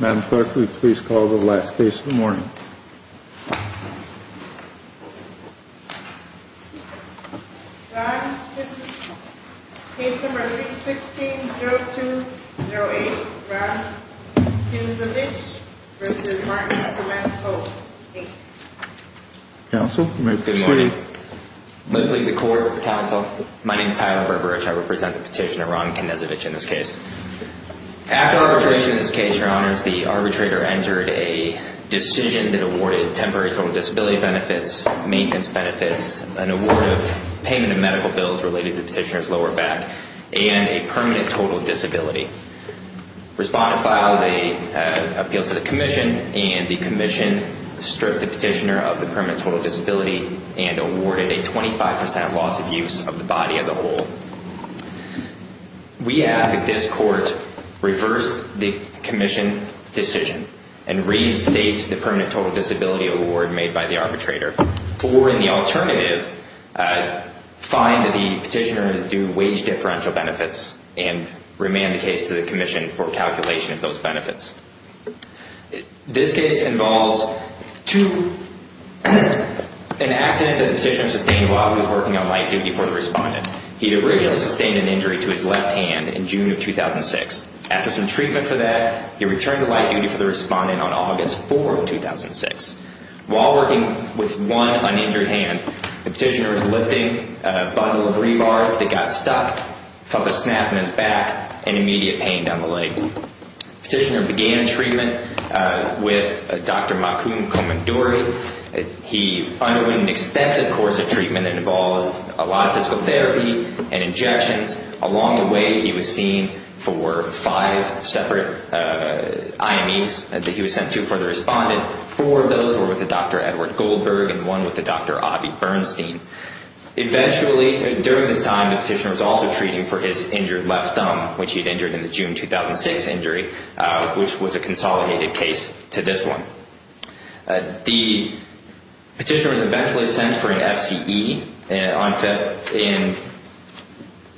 Madam Clerk, would you please call the last case of the morning? Ron Knezevich, case number 316-0208, Ron Knezevich v. Martin Knezevich. Counsel, you may proceed. Good morning. May it please the Court, counsel, my name is Tyler Burberich, I represent the petitioner Ron Knezevich in this case. After arbitration in this case, Your Honors, the arbitrator entered a decision that awarded temporary total disability benefits, maintenance benefits, an award of payment of medical bills related to the petitioner's lower back, and a permanent total disability. Respondent filed an appeal to the Commission, and the Commission stripped the petitioner of the permanent total disability, and awarded a 25% loss of use of the body as a whole. We ask that this Court reverse the Commission decision, and restate the permanent total disability award made by the arbitrator, or in the alternative, find that the petitioner is due wage differential benefits, and remand the case to the Commission for calculation of those benefits. This case involves an accident that the petitioner sustained while he was working on light duty for the respondent. He had originally sustained an injury to his left hand in June of 2006. After some treatment for that, he returned to light duty for the respondent on August 4 of 2006. While working with one uninjured hand, the petitioner was lifting a bottle of rebar that got stuck, felt a snap in his back, and immediate pain down the leg. The petitioner began treatment with Dr. Makum Komandori. He underwent an extensive course of treatment that involves a lot of physical therapy and injections. Along the way, he was seen for five separate IMEs that he was sent to for the respondent. Four of those were with Dr. Edward Goldberg, and one with Dr. Avi Bernstein. Eventually, during this time, the petitioner was also treating for his injured left thumb, which he had injured in the June 2006 injury, which was a consolidated case to this one. The petitioner was eventually sent for an FCE in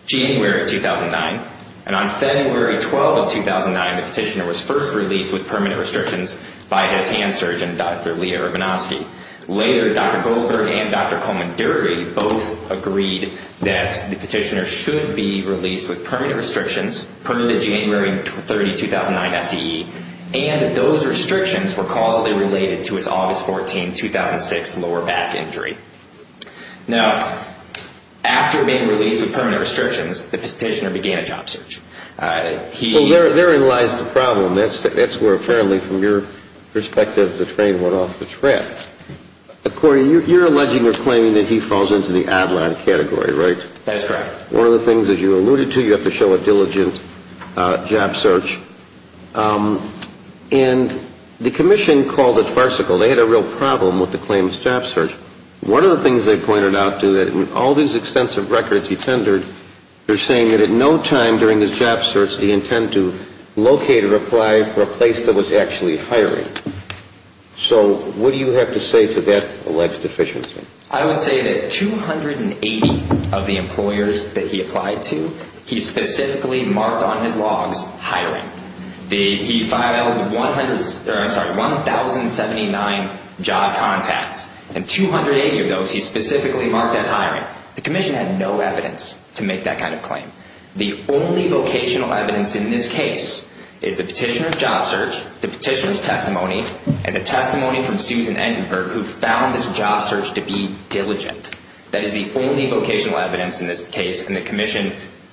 January 2009, and on February 12 of 2009, the petitioner was first released with permanent restrictions by his hand surgeon, Dr. Leah Urbanowski. Later, Dr. Goldberg and Dr. Komandori both agreed that the petitioner should be released with permanent restrictions, permanent January 30, 2009 FCE, and those restrictions were causally related to his August 14, 2006 lower back injury. Now, after being released with permanent restrictions, the petitioner began a job search. Well, therein lies the problem. That's where, apparently, from your perspective, the train went off the track. Corey, you're alleging or claiming that he falls into the outline category, right? That's correct. One of the things, as you alluded to, you have to show a diligent job search. And the commission called it farcical. They had a real problem with the claims job search. One of the things they pointed out, too, that in all these extensive records he tendered, they're saying that at no time during his job search did he intend to locate or apply for a place that was actually hiring. So what do you have to say to that alleged deficiency? I would say that 280 of the employers that he applied to, he specifically marked on his logs hiring. He filed 1,079 job contacts, and 280 of those he specifically marked as hiring. The commission had no evidence to make that kind of claim. The only vocational evidence in this case is the petitioner's job search, the petitioner's testimony, and the testimony from Susan Entenberg, who found this job search to be diligent. That is the only vocational evidence in this case, and the commission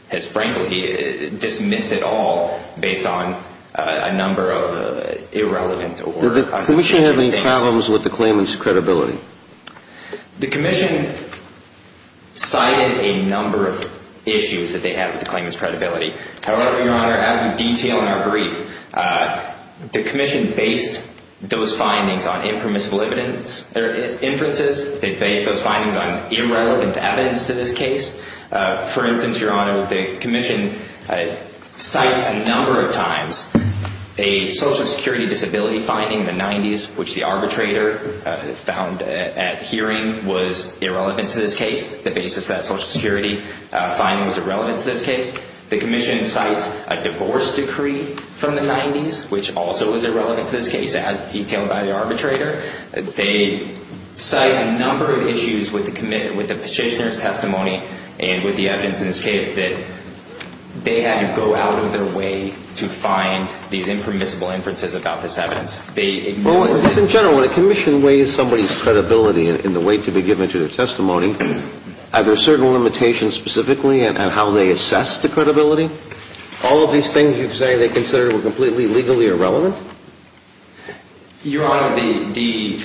has frankly dismissed it all, based on a number of irrelevant or unsubstantiated things. Did the commission have any problems with the claimant's credibility? The commission cited a number of issues that they had with the claimant's credibility. However, Your Honor, as we detail in our brief, the commission based those findings on impermissible inferences. They based those findings on irrelevant evidence to this case. For instance, Your Honor, the commission cites a number of times a Social Security disability finding in the 90s, which the arbitrator found at hearing was irrelevant to this case. The basis of that Social Security finding was irrelevant to this case. The commission cites a divorce decree from the 90s, which also was irrelevant to this case. It has detail by the arbitrator. They cite a number of issues with the petitioner's testimony and with the evidence in this case that they had to go out of their way to find these impermissible inferences about this evidence. They ignored it. Well, just in general, when a commission weighs somebody's credibility in the way to be given to their testimony, are there certain limitations specifically on how they assess the credibility? All of these things you say they consider were completely legally irrelevant? Your Honor, the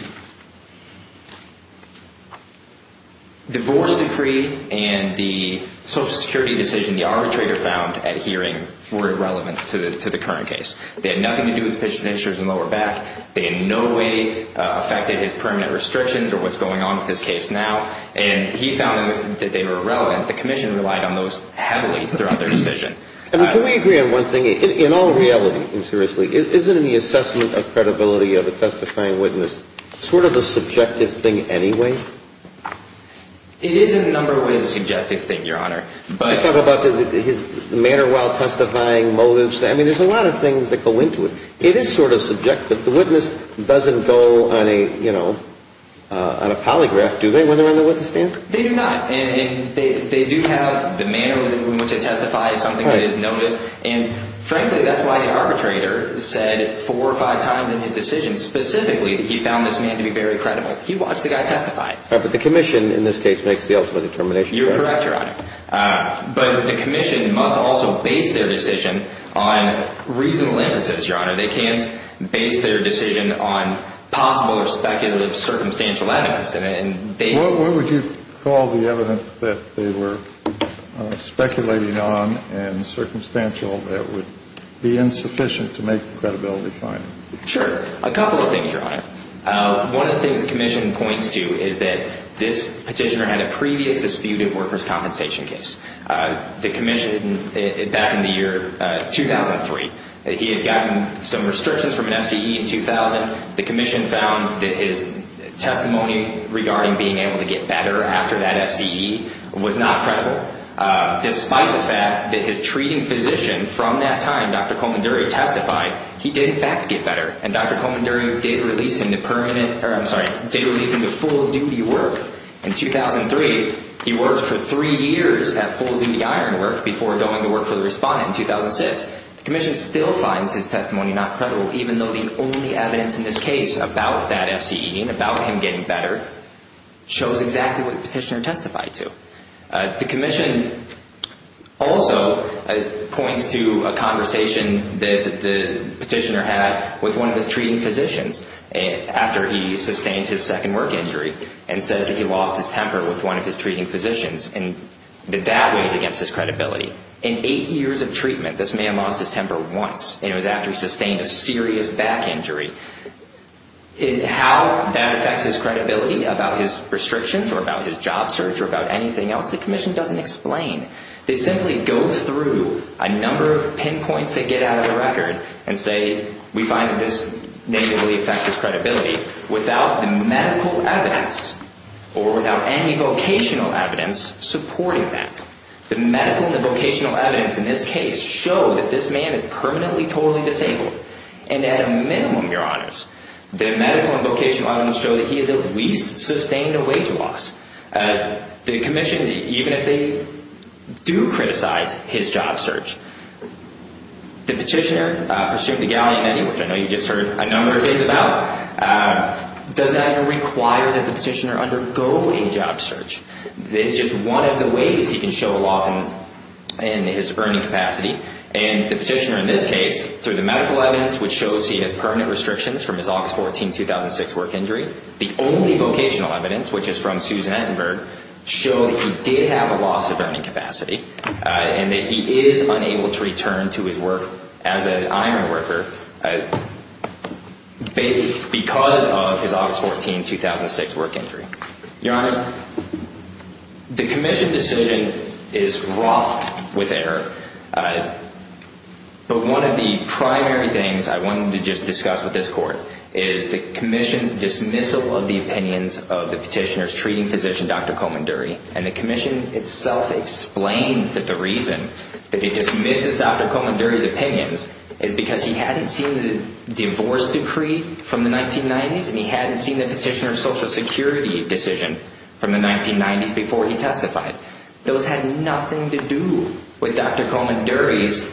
divorce decree and the Social Security decision the arbitrator found at hearing were irrelevant to the current case. They had nothing to do with the petitioner's lower back. They in no way affected his permanent restrictions or what's going on with his case now. And he found that they were irrelevant. The commission relied on those heavily throughout their decision. Can we agree on one thing? In all reality, seriously, isn't the assessment of credibility of a testifying witness sort of a subjective thing anyway? It is in a number of ways a subjective thing, Your Honor. I talk about his manner while testifying motives. I mean, there's a lot of things that go into it. It is sort of subjective. But the witness doesn't go on a, you know, on a polygraph, do they, when they're on the witness stand? They do not. And they do have the manner in which they testify is something that is noticed. And frankly, that's why the arbitrator said four or five times in his decision specifically that he found this man to be very credible. He watched the guy testify. But the commission in this case makes the ultimate determination. You're correct, Your Honor. They can't base their decision on possible or speculative circumstantial evidence. What would you call the evidence that they were speculating on and circumstantial that would be insufficient to make the credibility finding? Sure. A couple of things, Your Honor. One of the things the commission points to is that this petitioner had a previous disputed workers' compensation case. The commission back in the year 2003, he had gotten some restrictions from an F.C.E. in 2000. The commission found that his testimony regarding being able to get better after that F.C.E. was not credible. Despite the fact that his treating physician from that time, Dr. Colman Dury, testified, he did in fact get better. And Dr. Colman Dury did release him to permanent, or I'm sorry, did release him to full duty work in 2003. He worked for three years at full duty iron work before going to work for the respondent in 2006. The commission still finds his testimony not credible even though the only evidence in this case about that F.C.E. and about him getting better shows exactly what the petitioner testified to. The commission also points to a conversation that the petitioner had with one of his treating physicians after he sustained his second work injury, and says that he lost his temper with one of his treating physicians, and that that weighs against his credibility. In eight years of treatment, this man lost his temper once, and it was after he sustained a serious back injury. How that affects his credibility about his restrictions or about his job search or about anything else, the commission doesn't explain. They simply go through a number of pinpoints they get out of the record and say, we find that this negatively affects his credibility, without the medical evidence or without any vocational evidence supporting that. The medical and the vocational evidence in this case show that this man is permanently, totally disabled. And at a minimum, your honors, the medical and vocational evidence show that he has at least sustained a wage loss. The commission, even if they do criticize his job search, the petitioner, pursuant to gallium ethyl, which I know you just heard a number of things about, does not even require that the petitioner undergo a job search. It's just one of the ways he can show a loss in his earning capacity. And the petitioner in this case, through the medical evidence which shows he has permanent restrictions from his August 14, 2006 work injury, the only vocational evidence, which is from Susan Ettenberg, show that he did have a loss of earning capacity, and that he is unable to return to his work as an iron worker because of his August 14, 2006 work injury. Your honors, the commission decision is rough with error. But one of the primary things I wanted to just discuss with this court is the commission's dismissal of the opinions of the petitioner's treating physician, Dr. Coleman-Durie. And the commission itself explains that the reason that it dismisses Dr. Coleman-Durie's opinions is because he hadn't seen the divorce decree from the 1990s, and he hadn't seen the petitioner's social security decision from the 1990s before he testified. Those had nothing to do with Dr. Coleman-Durie's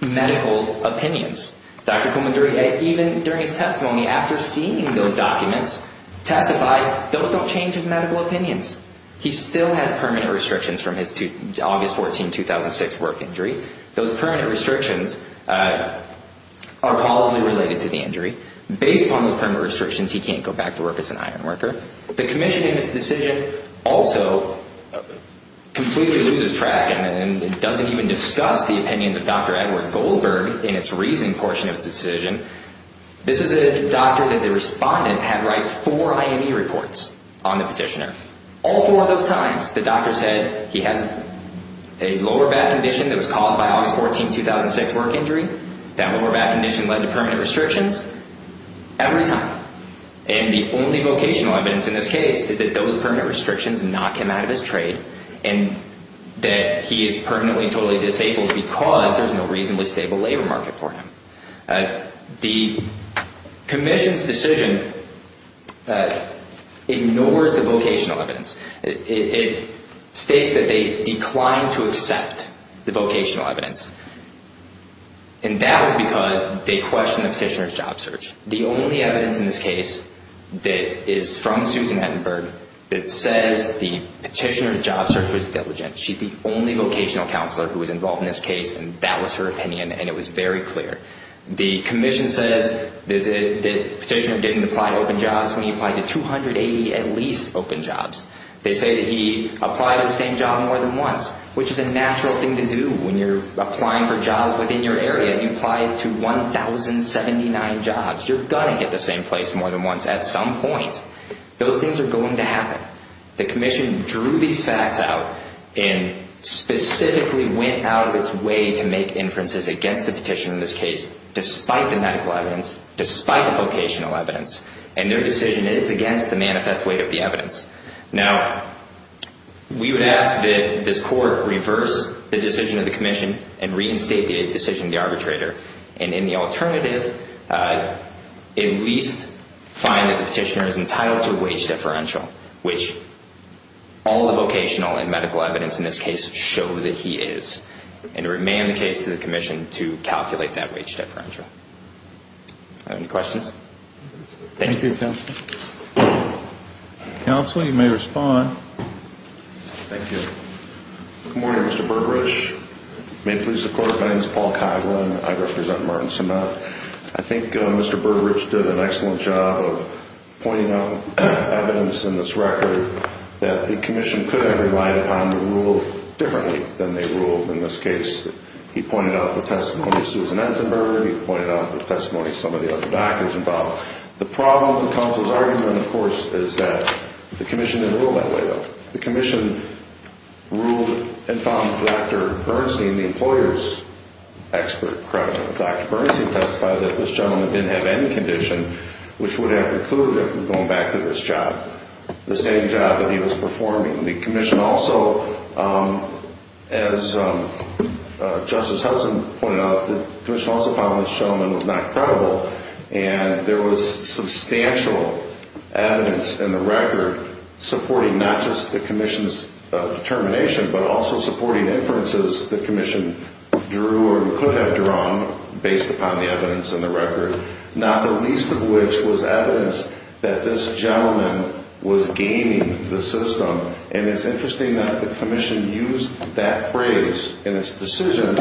medical opinions. Dr. Coleman-Durie, even during his testimony, after seeing those documents testified, those don't change his medical opinions. He still has permanent restrictions from his August 14, 2006 work injury. Those permanent restrictions are positively related to the injury. Based upon those permanent restrictions, he can't go back to work as an iron worker. The commission in its decision also completely loses track and doesn't even discuss the opinions of Dr. Edward Goldberg in its reasoning portion of its decision. This is a doctor that the respondent had write four IME reports on the petitioner. All four of those times, the doctor said he has a lower back condition that was caused by August 14, 2006 work injury. That lower back condition led to permanent restrictions every time. And the only vocational evidence in this case is that those permanent restrictions knock him out of his trade and that he is permanently totally disabled because there's no reasonably stable labor market for him. The commission's decision ignores the vocational evidence. It states that they declined to accept the vocational evidence. And that was because they questioned the petitioner's job search. The only evidence in this case that is from Susan Ettenberg that says the petitioner's job search was diligent. She's the only vocational counselor who was involved in this case, and that was her opinion, and it was very clear. The commission says the petitioner didn't apply to open jobs when he applied to 280 at least open jobs. They say that he applied to the same job more than once, which is a natural thing to do when you're applying for jobs within your area. You apply to 1,079 jobs. You're going to hit the same place more than once at some point. Those things are going to happen. The commission drew these facts out and specifically went out of its way to make inferences against the petitioner in this case, despite the medical evidence, despite the vocational evidence. And their decision is against the manifest weight of the evidence. Now, we would ask that this court reverse the decision of the commission and reinstate the decision of the arbitrator. And in the alternative, at least find that the petitioner is entitled to a wage differential, which all the vocational and medical evidence in this case show that he is, and to remand the case to the commission to calculate that wage differential. Are there any questions? Thank you, Counselor. Counselor, you may respond. Thank you. Good morning, Mr. Bergerich. May it please the Court, my name is Paul Coghlan. I represent Martin-Semitism. I think Mr. Bergerich did an excellent job of pointing out evidence in this record that the commission could have relied upon to rule differently than they ruled in this case. He pointed out the testimony of Susan Entenberger. He pointed out the testimony of some of the other doctors involved. The problem with the counsel's argument, of course, is that the commission didn't rule that way, though. The commission ruled and found Dr. Bernstein, the employer's expert, credible. Dr. Bernstein testified that this gentleman didn't have any condition which would have recluded him from going back to this job, the same job that he was performing. The commission also, as Justice Hudson pointed out, the commission also found this gentleman was not credible. And there was substantial evidence in the record supporting not just the commission's determination, but also supporting inferences the commission drew or could have drawn based upon the evidence in the record, not the least of which was evidence that this gentleman was gaining the system. And it's interesting that the commission used that phrase in its decision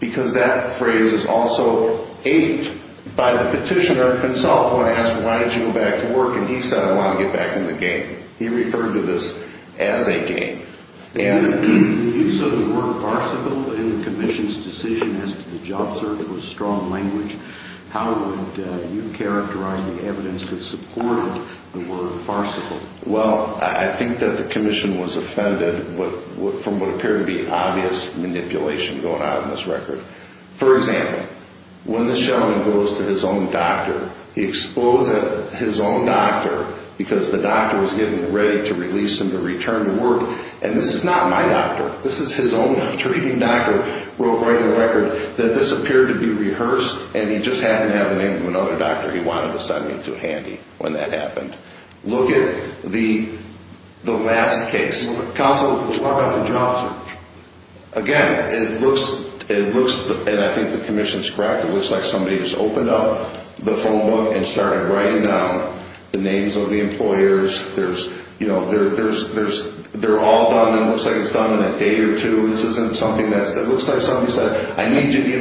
because that phrase is also aided by the petitioner himself when asked, why did you go back to work, and he said, I want to get back in the game. He referred to this as a game. And the use of the word farcical in the commission's decision as to the job search was strong language. How would you characterize the evidence that supported the word farcical? Well, I think that the commission was offended from what appeared to be obvious manipulation going on in this record. For example, when this gentleman goes to his own doctor, he explodes at his own doctor because the doctor was getting ready to release him to return to work, and this is not my doctor. This is his own treating doctor wrote right in the record that this appeared to be rehearsed and he just happened to have the name of another doctor he wanted to send him to handy when that happened. Look at the last case. Counsel, let's talk about the job search. Again, it looks, and I think the commission's correct, it looks like somebody just opened up the phone book and started writing down the names of the employers. There's, you know, they're all done and it looks like it's done in a day or two. This isn't something that's, it looks like somebody said, I need you to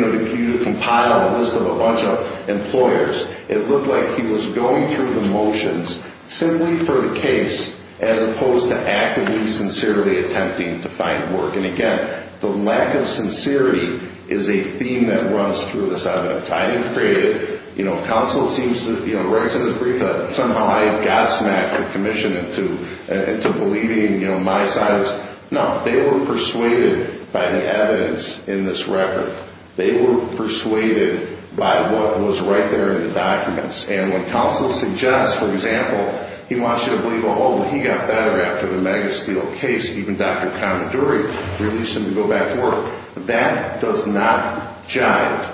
compile a list of a bunch of employers. It looked like he was going through the motions simply for the case as opposed to actively, sincerely attempting to find work. And again, the lack of sincerity is a theme that runs through this evidence. I didn't create it. You know, counsel seems to, you know, right to this brief, somehow I got smacked, the commission, into believing, you know, my science. No, they were persuaded by the evidence in this record. They were persuaded by what was right there in the documents. And when counsel suggests, for example, he wants you to believe, oh, he got better after the Megasteel case, even Dr. Commodore released him to go back to work, that does not jive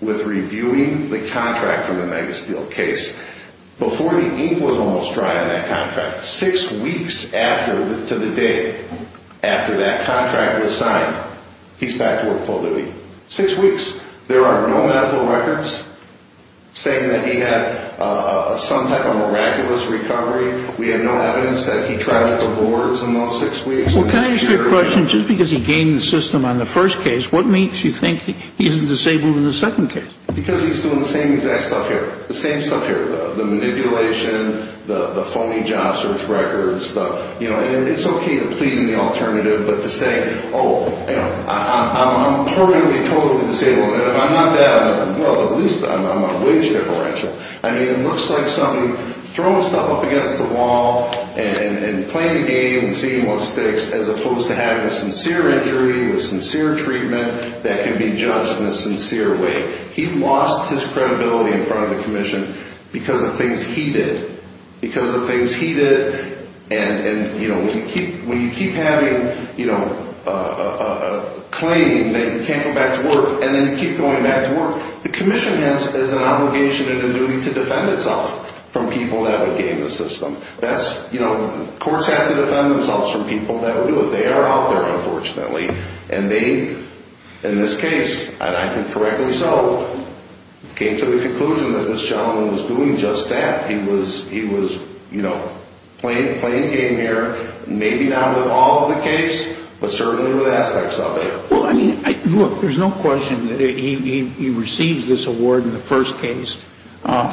with reviewing the contract for the Megasteel case before the ink was almost dry on that contract. Six weeks after to the day after that contract was signed, he's back to work full duty. Six weeks. There are no medical records saying that he had some type of miraculous recovery. We have no evidence that he tried the lords in those six weeks. Well, can I ask you a question? Just because he gained the system on the first case, what makes you think he isn't disabled in the second case? Because he's doing the same exact stuff here. The same stuff here. The manipulation, the phony job search records, you know, and it's okay to plead in the alternative, but to say, oh, you know, I'm permanently, totally disabled. If I'm not that, well, at least I'm on a wage differential. I mean, it looks like somebody throwing stuff up against the wall and playing the game and seeing what sticks as opposed to having a sincere injury with sincere treatment that can be judged in a sincere way. He lost his credibility in front of the commission because of things he did. Because of things he did and, you know, when you keep having, you know, a claim that you can't go back to work and then you keep going back to work, the commission has an obligation and a duty to defend itself from people that would gain the system. That's, you know, courts have to defend themselves from people that would do it. They are out there, unfortunately. And they, in this case, and I can correct myself, came to the conclusion that this gentleman was doing just that. He was, you know, playing the game here, maybe not with all of the case, but certainly with aspects of it. Well, I mean, look, there's no question that he received this award in the first case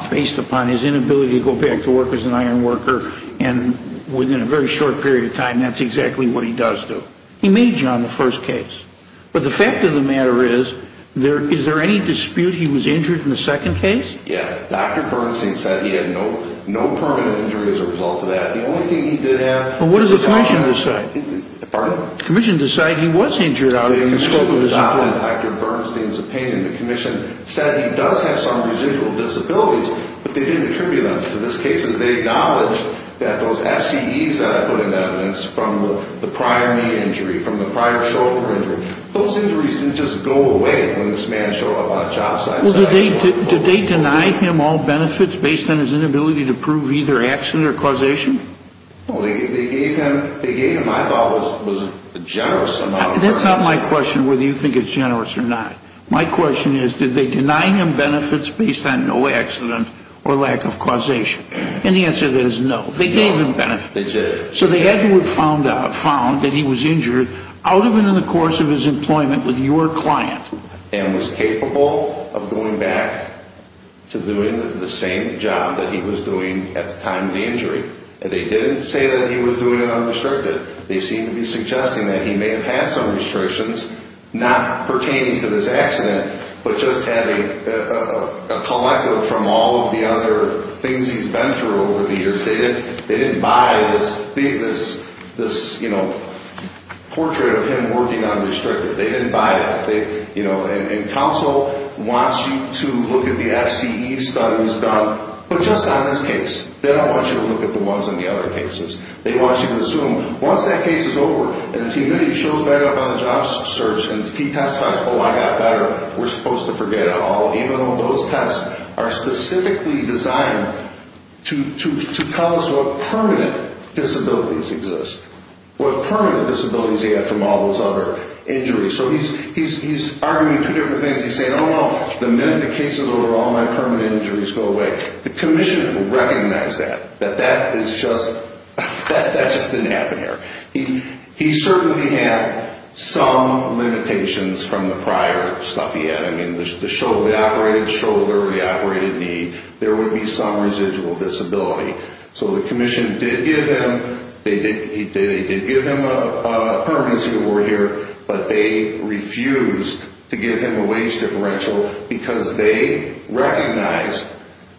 based upon his inability to go back to work as an iron worker and within a very short period of time, that's exactly what he does do. He made you on the first case. But the fact of the matter is, is there any dispute he was injured in the second case? Yeah. Dr. Bernstein said he had no permanent injury as a result of that. The only thing he did have... Well, what did the commission decide? Pardon? The commission decided he was injured out of his shoulder disability. Dr. Bernstein's opinion, the commission said he does have some residual disabilities, but they didn't attribute them to this case. They acknowledged that those FCEs that I put in evidence from the prior knee injury, from the prior shoulder injury, those injuries didn't just go away when this man showed up on a job site. Well, did they deny him all benefits based on his inability to prove either accident or causation? Well, they gave him, I thought, a generous amount of benefits. That's not my question whether you think it's generous or not. My question is, did they deny him benefits based on no accident or lack of causation? And the answer to that is no. They gave him benefits. They did. So they had to have found that he was injured out of and in the course of his employment with your client. And was capable of going back to doing the same job that he was doing at the time of the injury. And they didn't say that he was doing it unrestricted. They seem to be suggesting that he may have had some restrictions not pertaining to this accident, but just having a collective from all of the other things he's been through over the years. They didn't buy this, you know, portrait of him working unrestricted. They didn't buy that. And counsel wants you to look at the FCE studies done, but just on this case. They don't want you to look at the ones in the other cases. They want you to assume once that case is over and if he really shows back up on the job search and if he testifies, oh, I got better, we're supposed to forget it all. Even though those tests are specifically designed to tell us what permanent disabilities exist. What permanent disabilities he had from all those other injuries. So he's arguing two different things. He's saying, oh, no, the minute the case is over, all my permanent injuries go away. The commissioner will recognize that. That that is just, that just didn't happen here. He certainly had some limitations from the prior stuff he had. I mean, the shoulder, the operated shoulder, the operated knee, there would be some residual disability. So the commission did give him, they did give him a permanency award here. But they refused to give him a wage differential because they recognized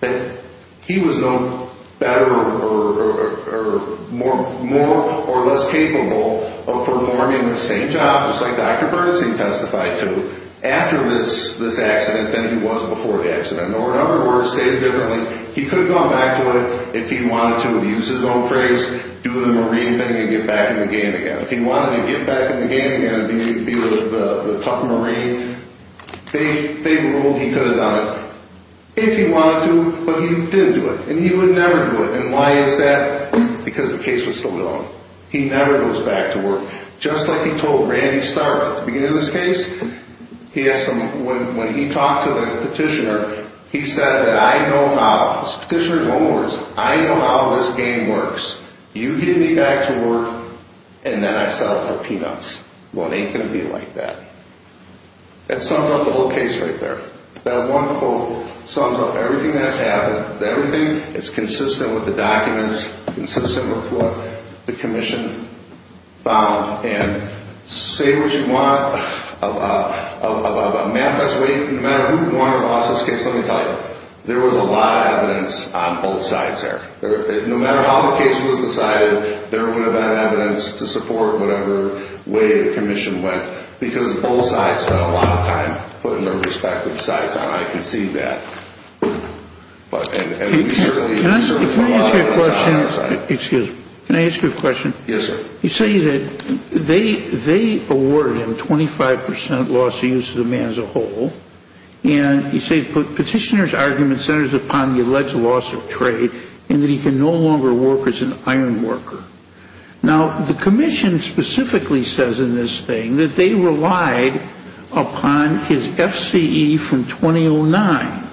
that he was no better or more, more or less capable of performing the same job, just like Dr. Bernstein testified to, after this accident than he was before the accident. Or in other words, stated differently, he could have gone back to it if he wanted to. He used his own phrase, do the Marine thing and get back in the game again. If he wanted to get back in the game again and be with the tough Marine, they ruled he could have done it if he wanted to, but he didn't do it. And he would never do it. And why is that? Because the case was still going. He never goes back to work. Just like he told Randy Stark at the beginning of this case, he has some, when he talked to the petitioner, he said that I know how, this petitioner's own words, I know how this game works. You get me back to work and then I settle for peanuts. Well, it ain't going to be like that. That sums up the whole case right there. That one quote sums up everything that's happened. Everything is consistent with the documents, consistent with what the commission found. And say what you want of a map that's waiting, no matter who wanted an office case, let me tell you, there was a lot of evidence on both sides there. No matter how the case was decided, there would have been evidence to support whatever way the commission went because both sides spent a lot of time putting their respective sides on. I can see that. Can I ask you a question? Excuse me. Can I ask you a question? Yes, sir. You say that they awarded him 25% loss of use of the man as a whole, and you say the petitioner's argument centers upon the alleged loss of trade and that he can no longer work as an iron worker. Now, the commission specifically says in this thing that they relied upon his FCE from 2009.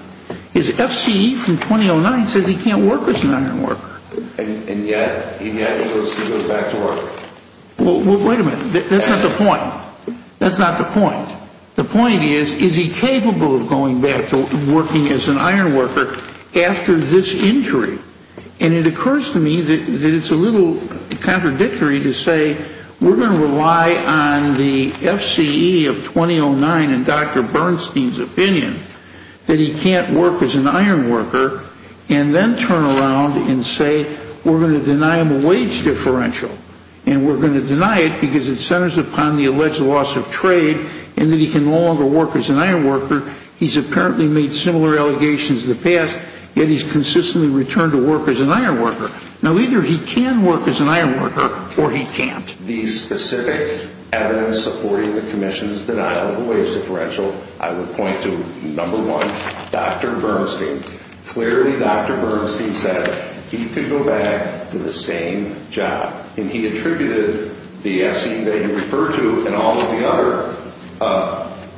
His FCE from 2009 says he can't work as an iron worker. And yet he goes back to work. Well, wait a minute. That's not the point. That's not the point. The point is, is he capable of going back to working as an iron worker after this injury? And it occurs to me that it's a little contradictory to say we're going to rely on the FCE of 2009 and Dr. Bernstein's opinion that he can't work as an iron worker and then turn around and say we're going to deny him a wage differential and we're going to deny it because it centers upon the alleged loss of trade and that he can no longer work as an iron worker. He's apparently made similar allegations in the past, yet he's consistently returned to work as an iron worker. Now, either he can work as an iron worker or he can't. The specific evidence supporting the commission's denial of a wage differential, I would point to, number one, Dr. Bernstein. Clearly, Dr. Bernstein said he could go back to the same job, and he attributed the FCE that he referred to and all of the other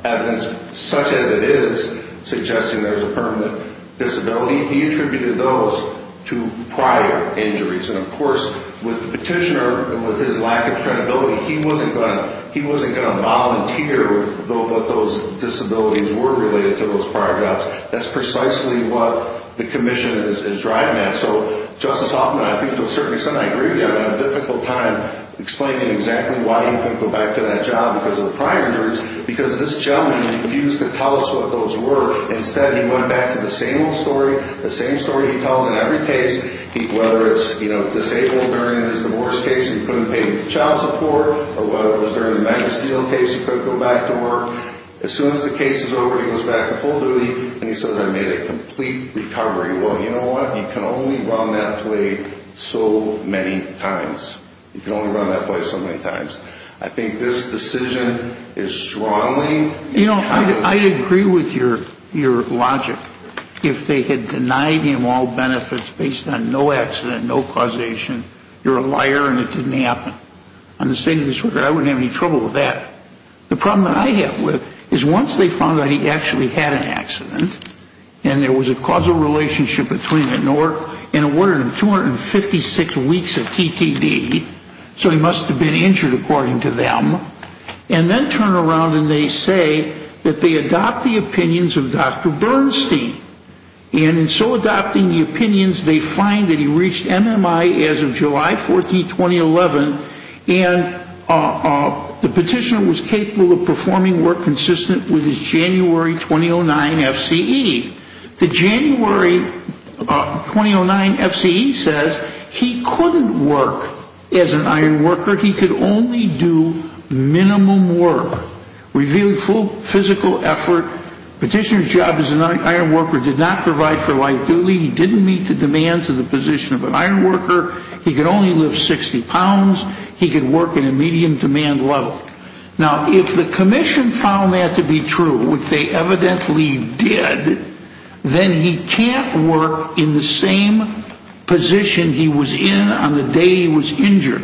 evidence such as it is suggesting there's a permanent disability, he attributed those to prior injuries. And, of course, with the petitioner and with his lack of credibility, he wasn't going to volunteer what those disabilities were related to those prior jobs. That's precisely what the commission is driving at. So, Justice Hoffman, I think to a certain extent I agree with you. I had a difficult time explaining exactly why he couldn't go back to that job because of the prior injuries because this gentleman refused to tell us what those were. Instead, he went back to the same old story, the same story he tells in every case, whether it's disabled during his divorce case, he couldn't pay for child support, or whether it was during the magazine case, he couldn't go back to work. As soon as the case is over, he goes back to full duty, and he says, I made a complete recovery. Well, you know what? He can only run that play so many times. He can only run that play so many times. I think this decision is strongly- You know, I agree with your logic. If they had denied him all benefits based on no accident, no causation, you're a liar and it didn't happen. On the state of this record, I wouldn't have any trouble with that. The problem that I have with it is once they found out he actually had an accident and there was a causal relationship between an order and 256 weeks of TTD, so he must have been injured according to them, and then turn around and they say that they adopt the opinions of Dr. Bernstein. And in so adopting the opinions, they find that he reached MMI as of July 14, 2011, and the petitioner was capable of performing work consistent with his January 2009 FCE. The January 2009 FCE says he couldn't work as an iron worker. He could only do minimum work. Revealed full physical effort. Petitioner's job as an iron worker did not provide for life duly. He didn't meet the demands of the position of an iron worker. He could only lift 60 pounds. He could work in a medium demand level. Now, if the commission found that to be true, which they evidently did, then he can't work in the same position he was in on the day he was injured.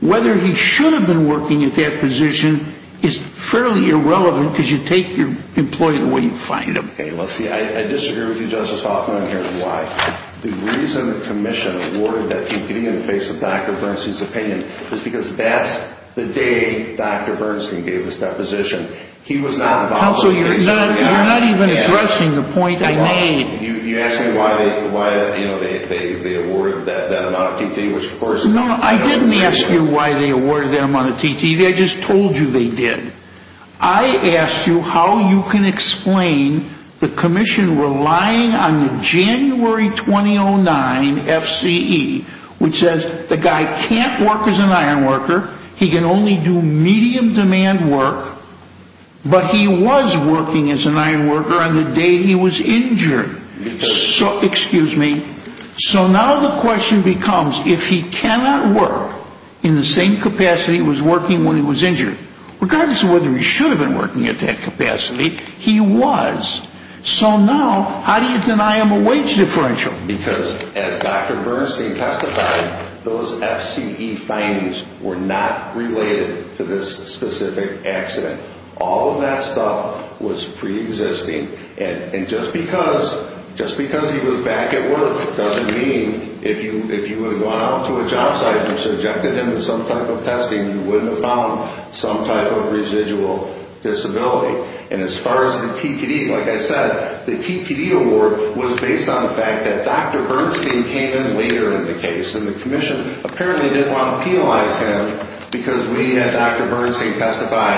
Whether he should have been working at that position is fairly irrelevant because you take your employee the way you find him. Okay, let's see. I disagree with you, Justice Hoffman, and here's why. The reason the commission awarded that TTD in the face of Dr. Bernstein's opinion is because that's the day Dr. Bernstein gave his deposition. He was not involved in the case. Counsel, you're not even addressing the point I made. You asked me why they awarded that amount of TTD, which of course— No, I didn't ask you why they awarded that amount of TTD. I just told you they did. I asked you how you can explain the commission relying on the January 2009 FCE, which says the guy can't work as an iron worker, he can only do medium demand work, but he was working as an iron worker on the day he was injured. Excuse me. So now the question becomes if he cannot work in the same capacity he was working when he was injured, regardless of whether he should have been working at that capacity, he was. So now how do you deny him a wage differential? Because as Dr. Bernstein testified, those FCE findings were not related to this specific accident. All of that stuff was preexisting. And just because he was back at work doesn't mean if you would have gone out to a job site and subjected him to some type of testing, you wouldn't have found some type of residual disability. And as far as the TTD, like I said, the TTD award was based on the fact that Dr. Bernstein came in later in the case, and the commission apparently didn't want to penalize him because we had Dr. Bernstein testify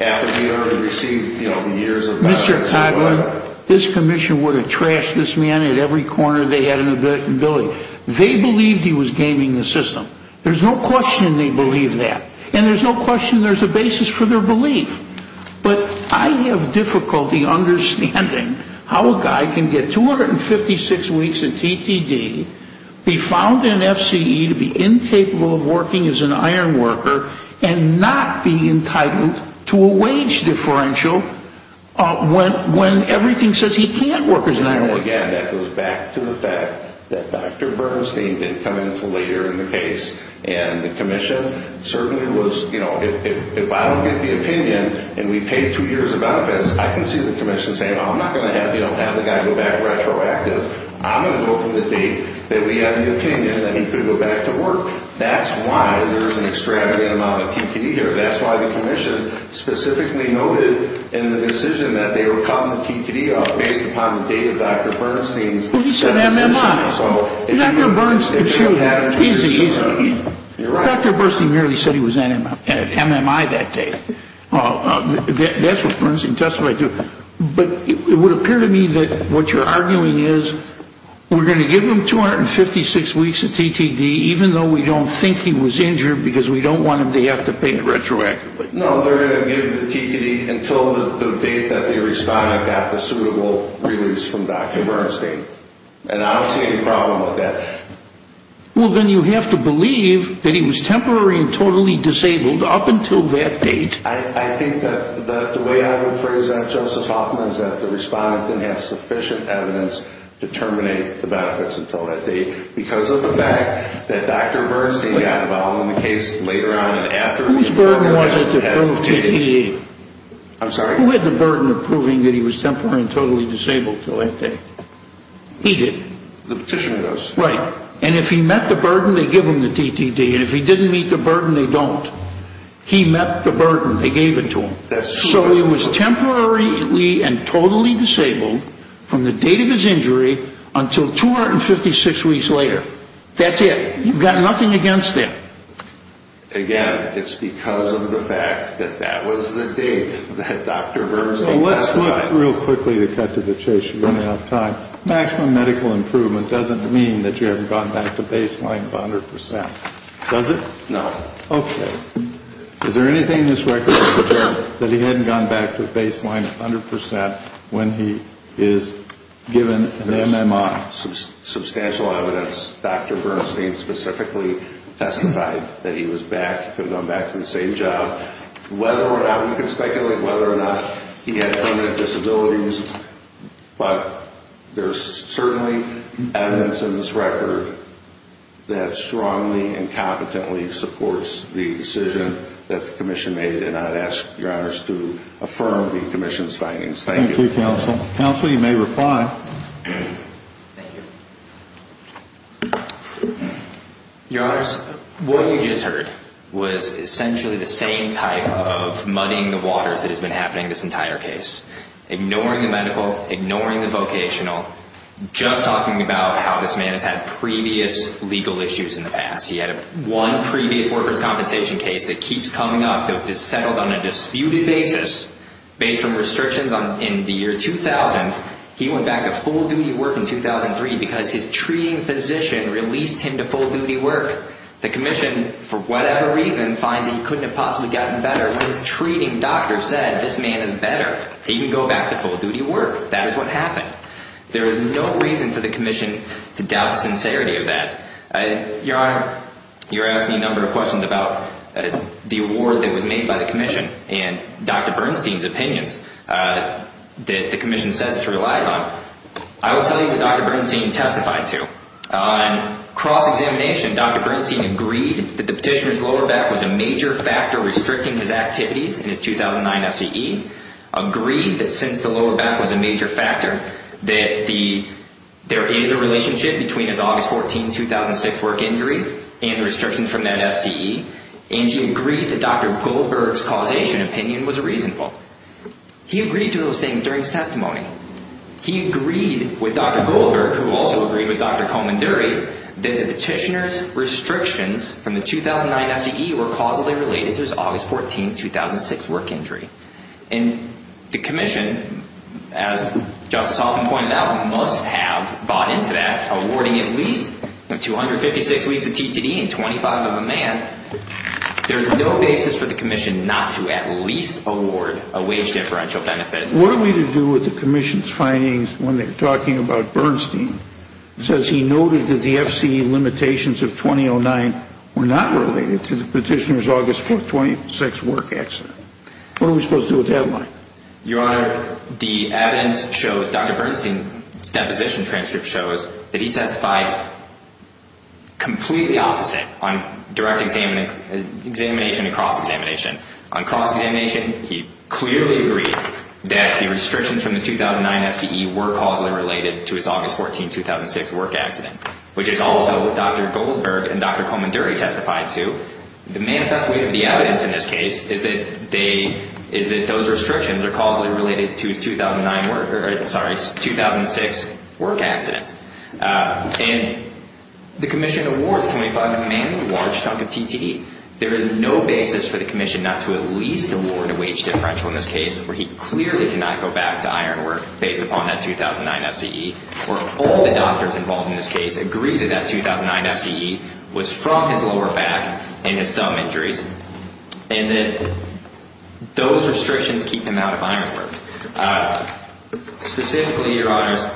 after he had received years of... Mr. Toddler, this commission would have trashed this man at every corner they had an ability. They believed he was gaming the system. There's no question they believe that. And there's no question there's a basis for their belief. But I have difficulty understanding how a guy can get 256 weeks of TTD, be found in FCE to be incapable of working as an ironworker, and not be entitled to a wage differential when everything says he can't work as an ironworker. Again, that goes back to the fact that Dr. Bernstein did come in until later in the case, and the commission certainly was, you know, if I don't get the opinion and we paid two years of benefits, I can see the commission saying, oh, I'm not going to have the guy go back retroactive. I'm going to go from the date that we had the opinion that he could go back to work. That's why there's an extravagant amount of TTD here. That's why the commission specifically noted in the decision that they were cutting the TTD off based upon the date of Dr. Bernstein's... Well, he said MMI. Dr. Bernstein merely said he was at MMI that day. That's what Bernstein testified to. But it would appear to me that what you're arguing is we're going to give him 256 weeks of TTD, even though we don't think he was injured because we don't want him to have to pay it retroactively. No, they're going to give the TTD until the date that the respondent got the suitable release from Dr. Bernstein. And I don't see any problem with that. Well, then you have to believe that he was temporary and totally disabled up until that date. I think that the way I would phrase that, Joseph Hoffman, is that the respondent didn't have sufficient evidence to terminate the benefits until that date because of the fact that Dr. Bernstein got involved in the case later on and after... Whose burden was it to prove TTD? I'm sorry? Who had the burden of proving that he was temporary and totally disabled until that date? He did. The petitioner does. Right. And if he met the burden, they give him the TTD. And if he didn't meet the burden, they don't. He met the burden. They gave it to him. So he was temporarily and totally disabled from the date of his injury until 256 weeks later. That's it. You've got nothing against that. Again, it's because of the fact that that was the date that Dr. Bernstein testified. So let's look real quickly to cut to the chase. We don't have time. Maximum medical improvement doesn't mean that you haven't gone back to baseline 100%. Does it? No. Okay. Is there anything in this record that suggests that he hadn't gone back to baseline 100% when he is given an MMI? Substantial evidence. Dr. Bernstein specifically testified that he was back, could have gone back to the same job. Whether or not, we can speculate whether or not he had permanent disabilities. But there's certainly evidence in this record that strongly and competently supports the decision that the commission made. And I'd ask your honors to affirm the commission's findings. Thank you. Thank you, counsel. Counsel, you may reply. Thank you. Your honors, what you just heard was essentially the same type of muddying the waters that has been happening this entire case. Ignoring the medical, ignoring the vocational, just talking about how this man has had previous legal issues in the past. He had one previous workers' compensation case that keeps coming up that was settled on a disputed basis based on restrictions in the year 2000. He went back to full-duty work in 2003 because his treating physician released him to full-duty work. The commission, for whatever reason, finds that he couldn't have possibly gotten better. His treating doctor said this man is better. He can go back to full-duty work. That is what happened. There is no reason for the commission to doubt the sincerity of that. Your honor, you're asking a number of questions about the award that was made by the commission and Dr. Bernstein's opinions that the commission says it's relied on. I will tell you what Dr. Bernstein testified to. On cross-examination, Dr. Bernstein agreed that the petitioner's lower back was a major factor restricting his activities in his 2009 FCE. Agreed that since the lower back was a major factor that there is a relationship between his August 14, 2006, work injury and the restrictions from that FCE. And he agreed that Dr. Goldberg's causation opinion was reasonable. He agreed to those things during his testimony. He agreed with Dr. Goldberg, who also agreed with Dr. Comanderi, that the petitioner's restrictions from the 2009 FCE were causally related to his August 14, 2006, work injury. And the commission, as Justice Hoffman pointed out, must have bought into that, awarding at least 256 weeks of TTD and 25 of a man. There is no basis for the commission not to at least award a wage differential benefit. What are we to do with the commission's findings when they're talking about Bernstein? It says he noted that the FCE limitations of 2009 were not related to the petitioner's August 14, 2006, work accident. What are we supposed to do with that money? Your Honor, the evidence shows, Dr. Bernstein's deposition transcript shows that he testified completely opposite on direct examination and cross-examination. On cross-examination, he clearly agreed that the restrictions from the 2009 FCE were causally related to his August 14, 2006, work accident, which is also what Dr. Goldberg and Dr. Comanderi testified to. The manifest way of the evidence in this case is that those restrictions are causally related to his 2009 work—sorry, his 2006 work accident. And the commission awards 25 of a man a large chunk of TTD. There is no basis for the commission not to at least award a wage differential in this case, for he clearly cannot go back to iron work based upon that 2009 FCE, where all the doctors involved in this case agree that that 2009 FCE was from his lower back and his thumb injuries, and that those restrictions keep him out of iron work. Specifically, Your Honors,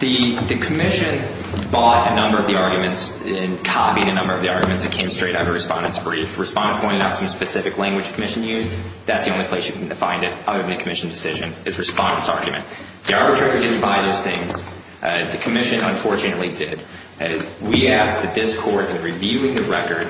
the commission bought a number of the arguments and copied a number of the arguments that came straight out of a respondent's brief. The respondent pointed out some specific language the commission used. That's the only place you can find it, other than the commission's decision, is the respondent's argument. The arbitrator didn't buy those things. The commission, unfortunately, did. We asked that this court, in reviewing the record,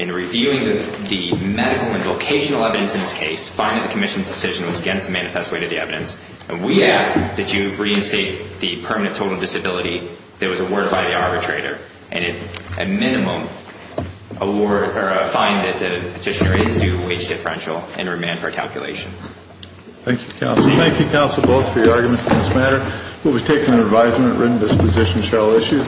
in reviewing the medical and vocational evidence in this case, find that the commission's decision was against the manifest way of the evidence. We ask that you reinstate the permanent total disability that was awarded by the arbitrator, and a minimum award, or a fine that the petitioner is due, wage differential, and remand for calculation. Thank you, counsel. Thank you, counsel, both for your arguments on this matter. We'll be taking an advisement at written disposition shall issue.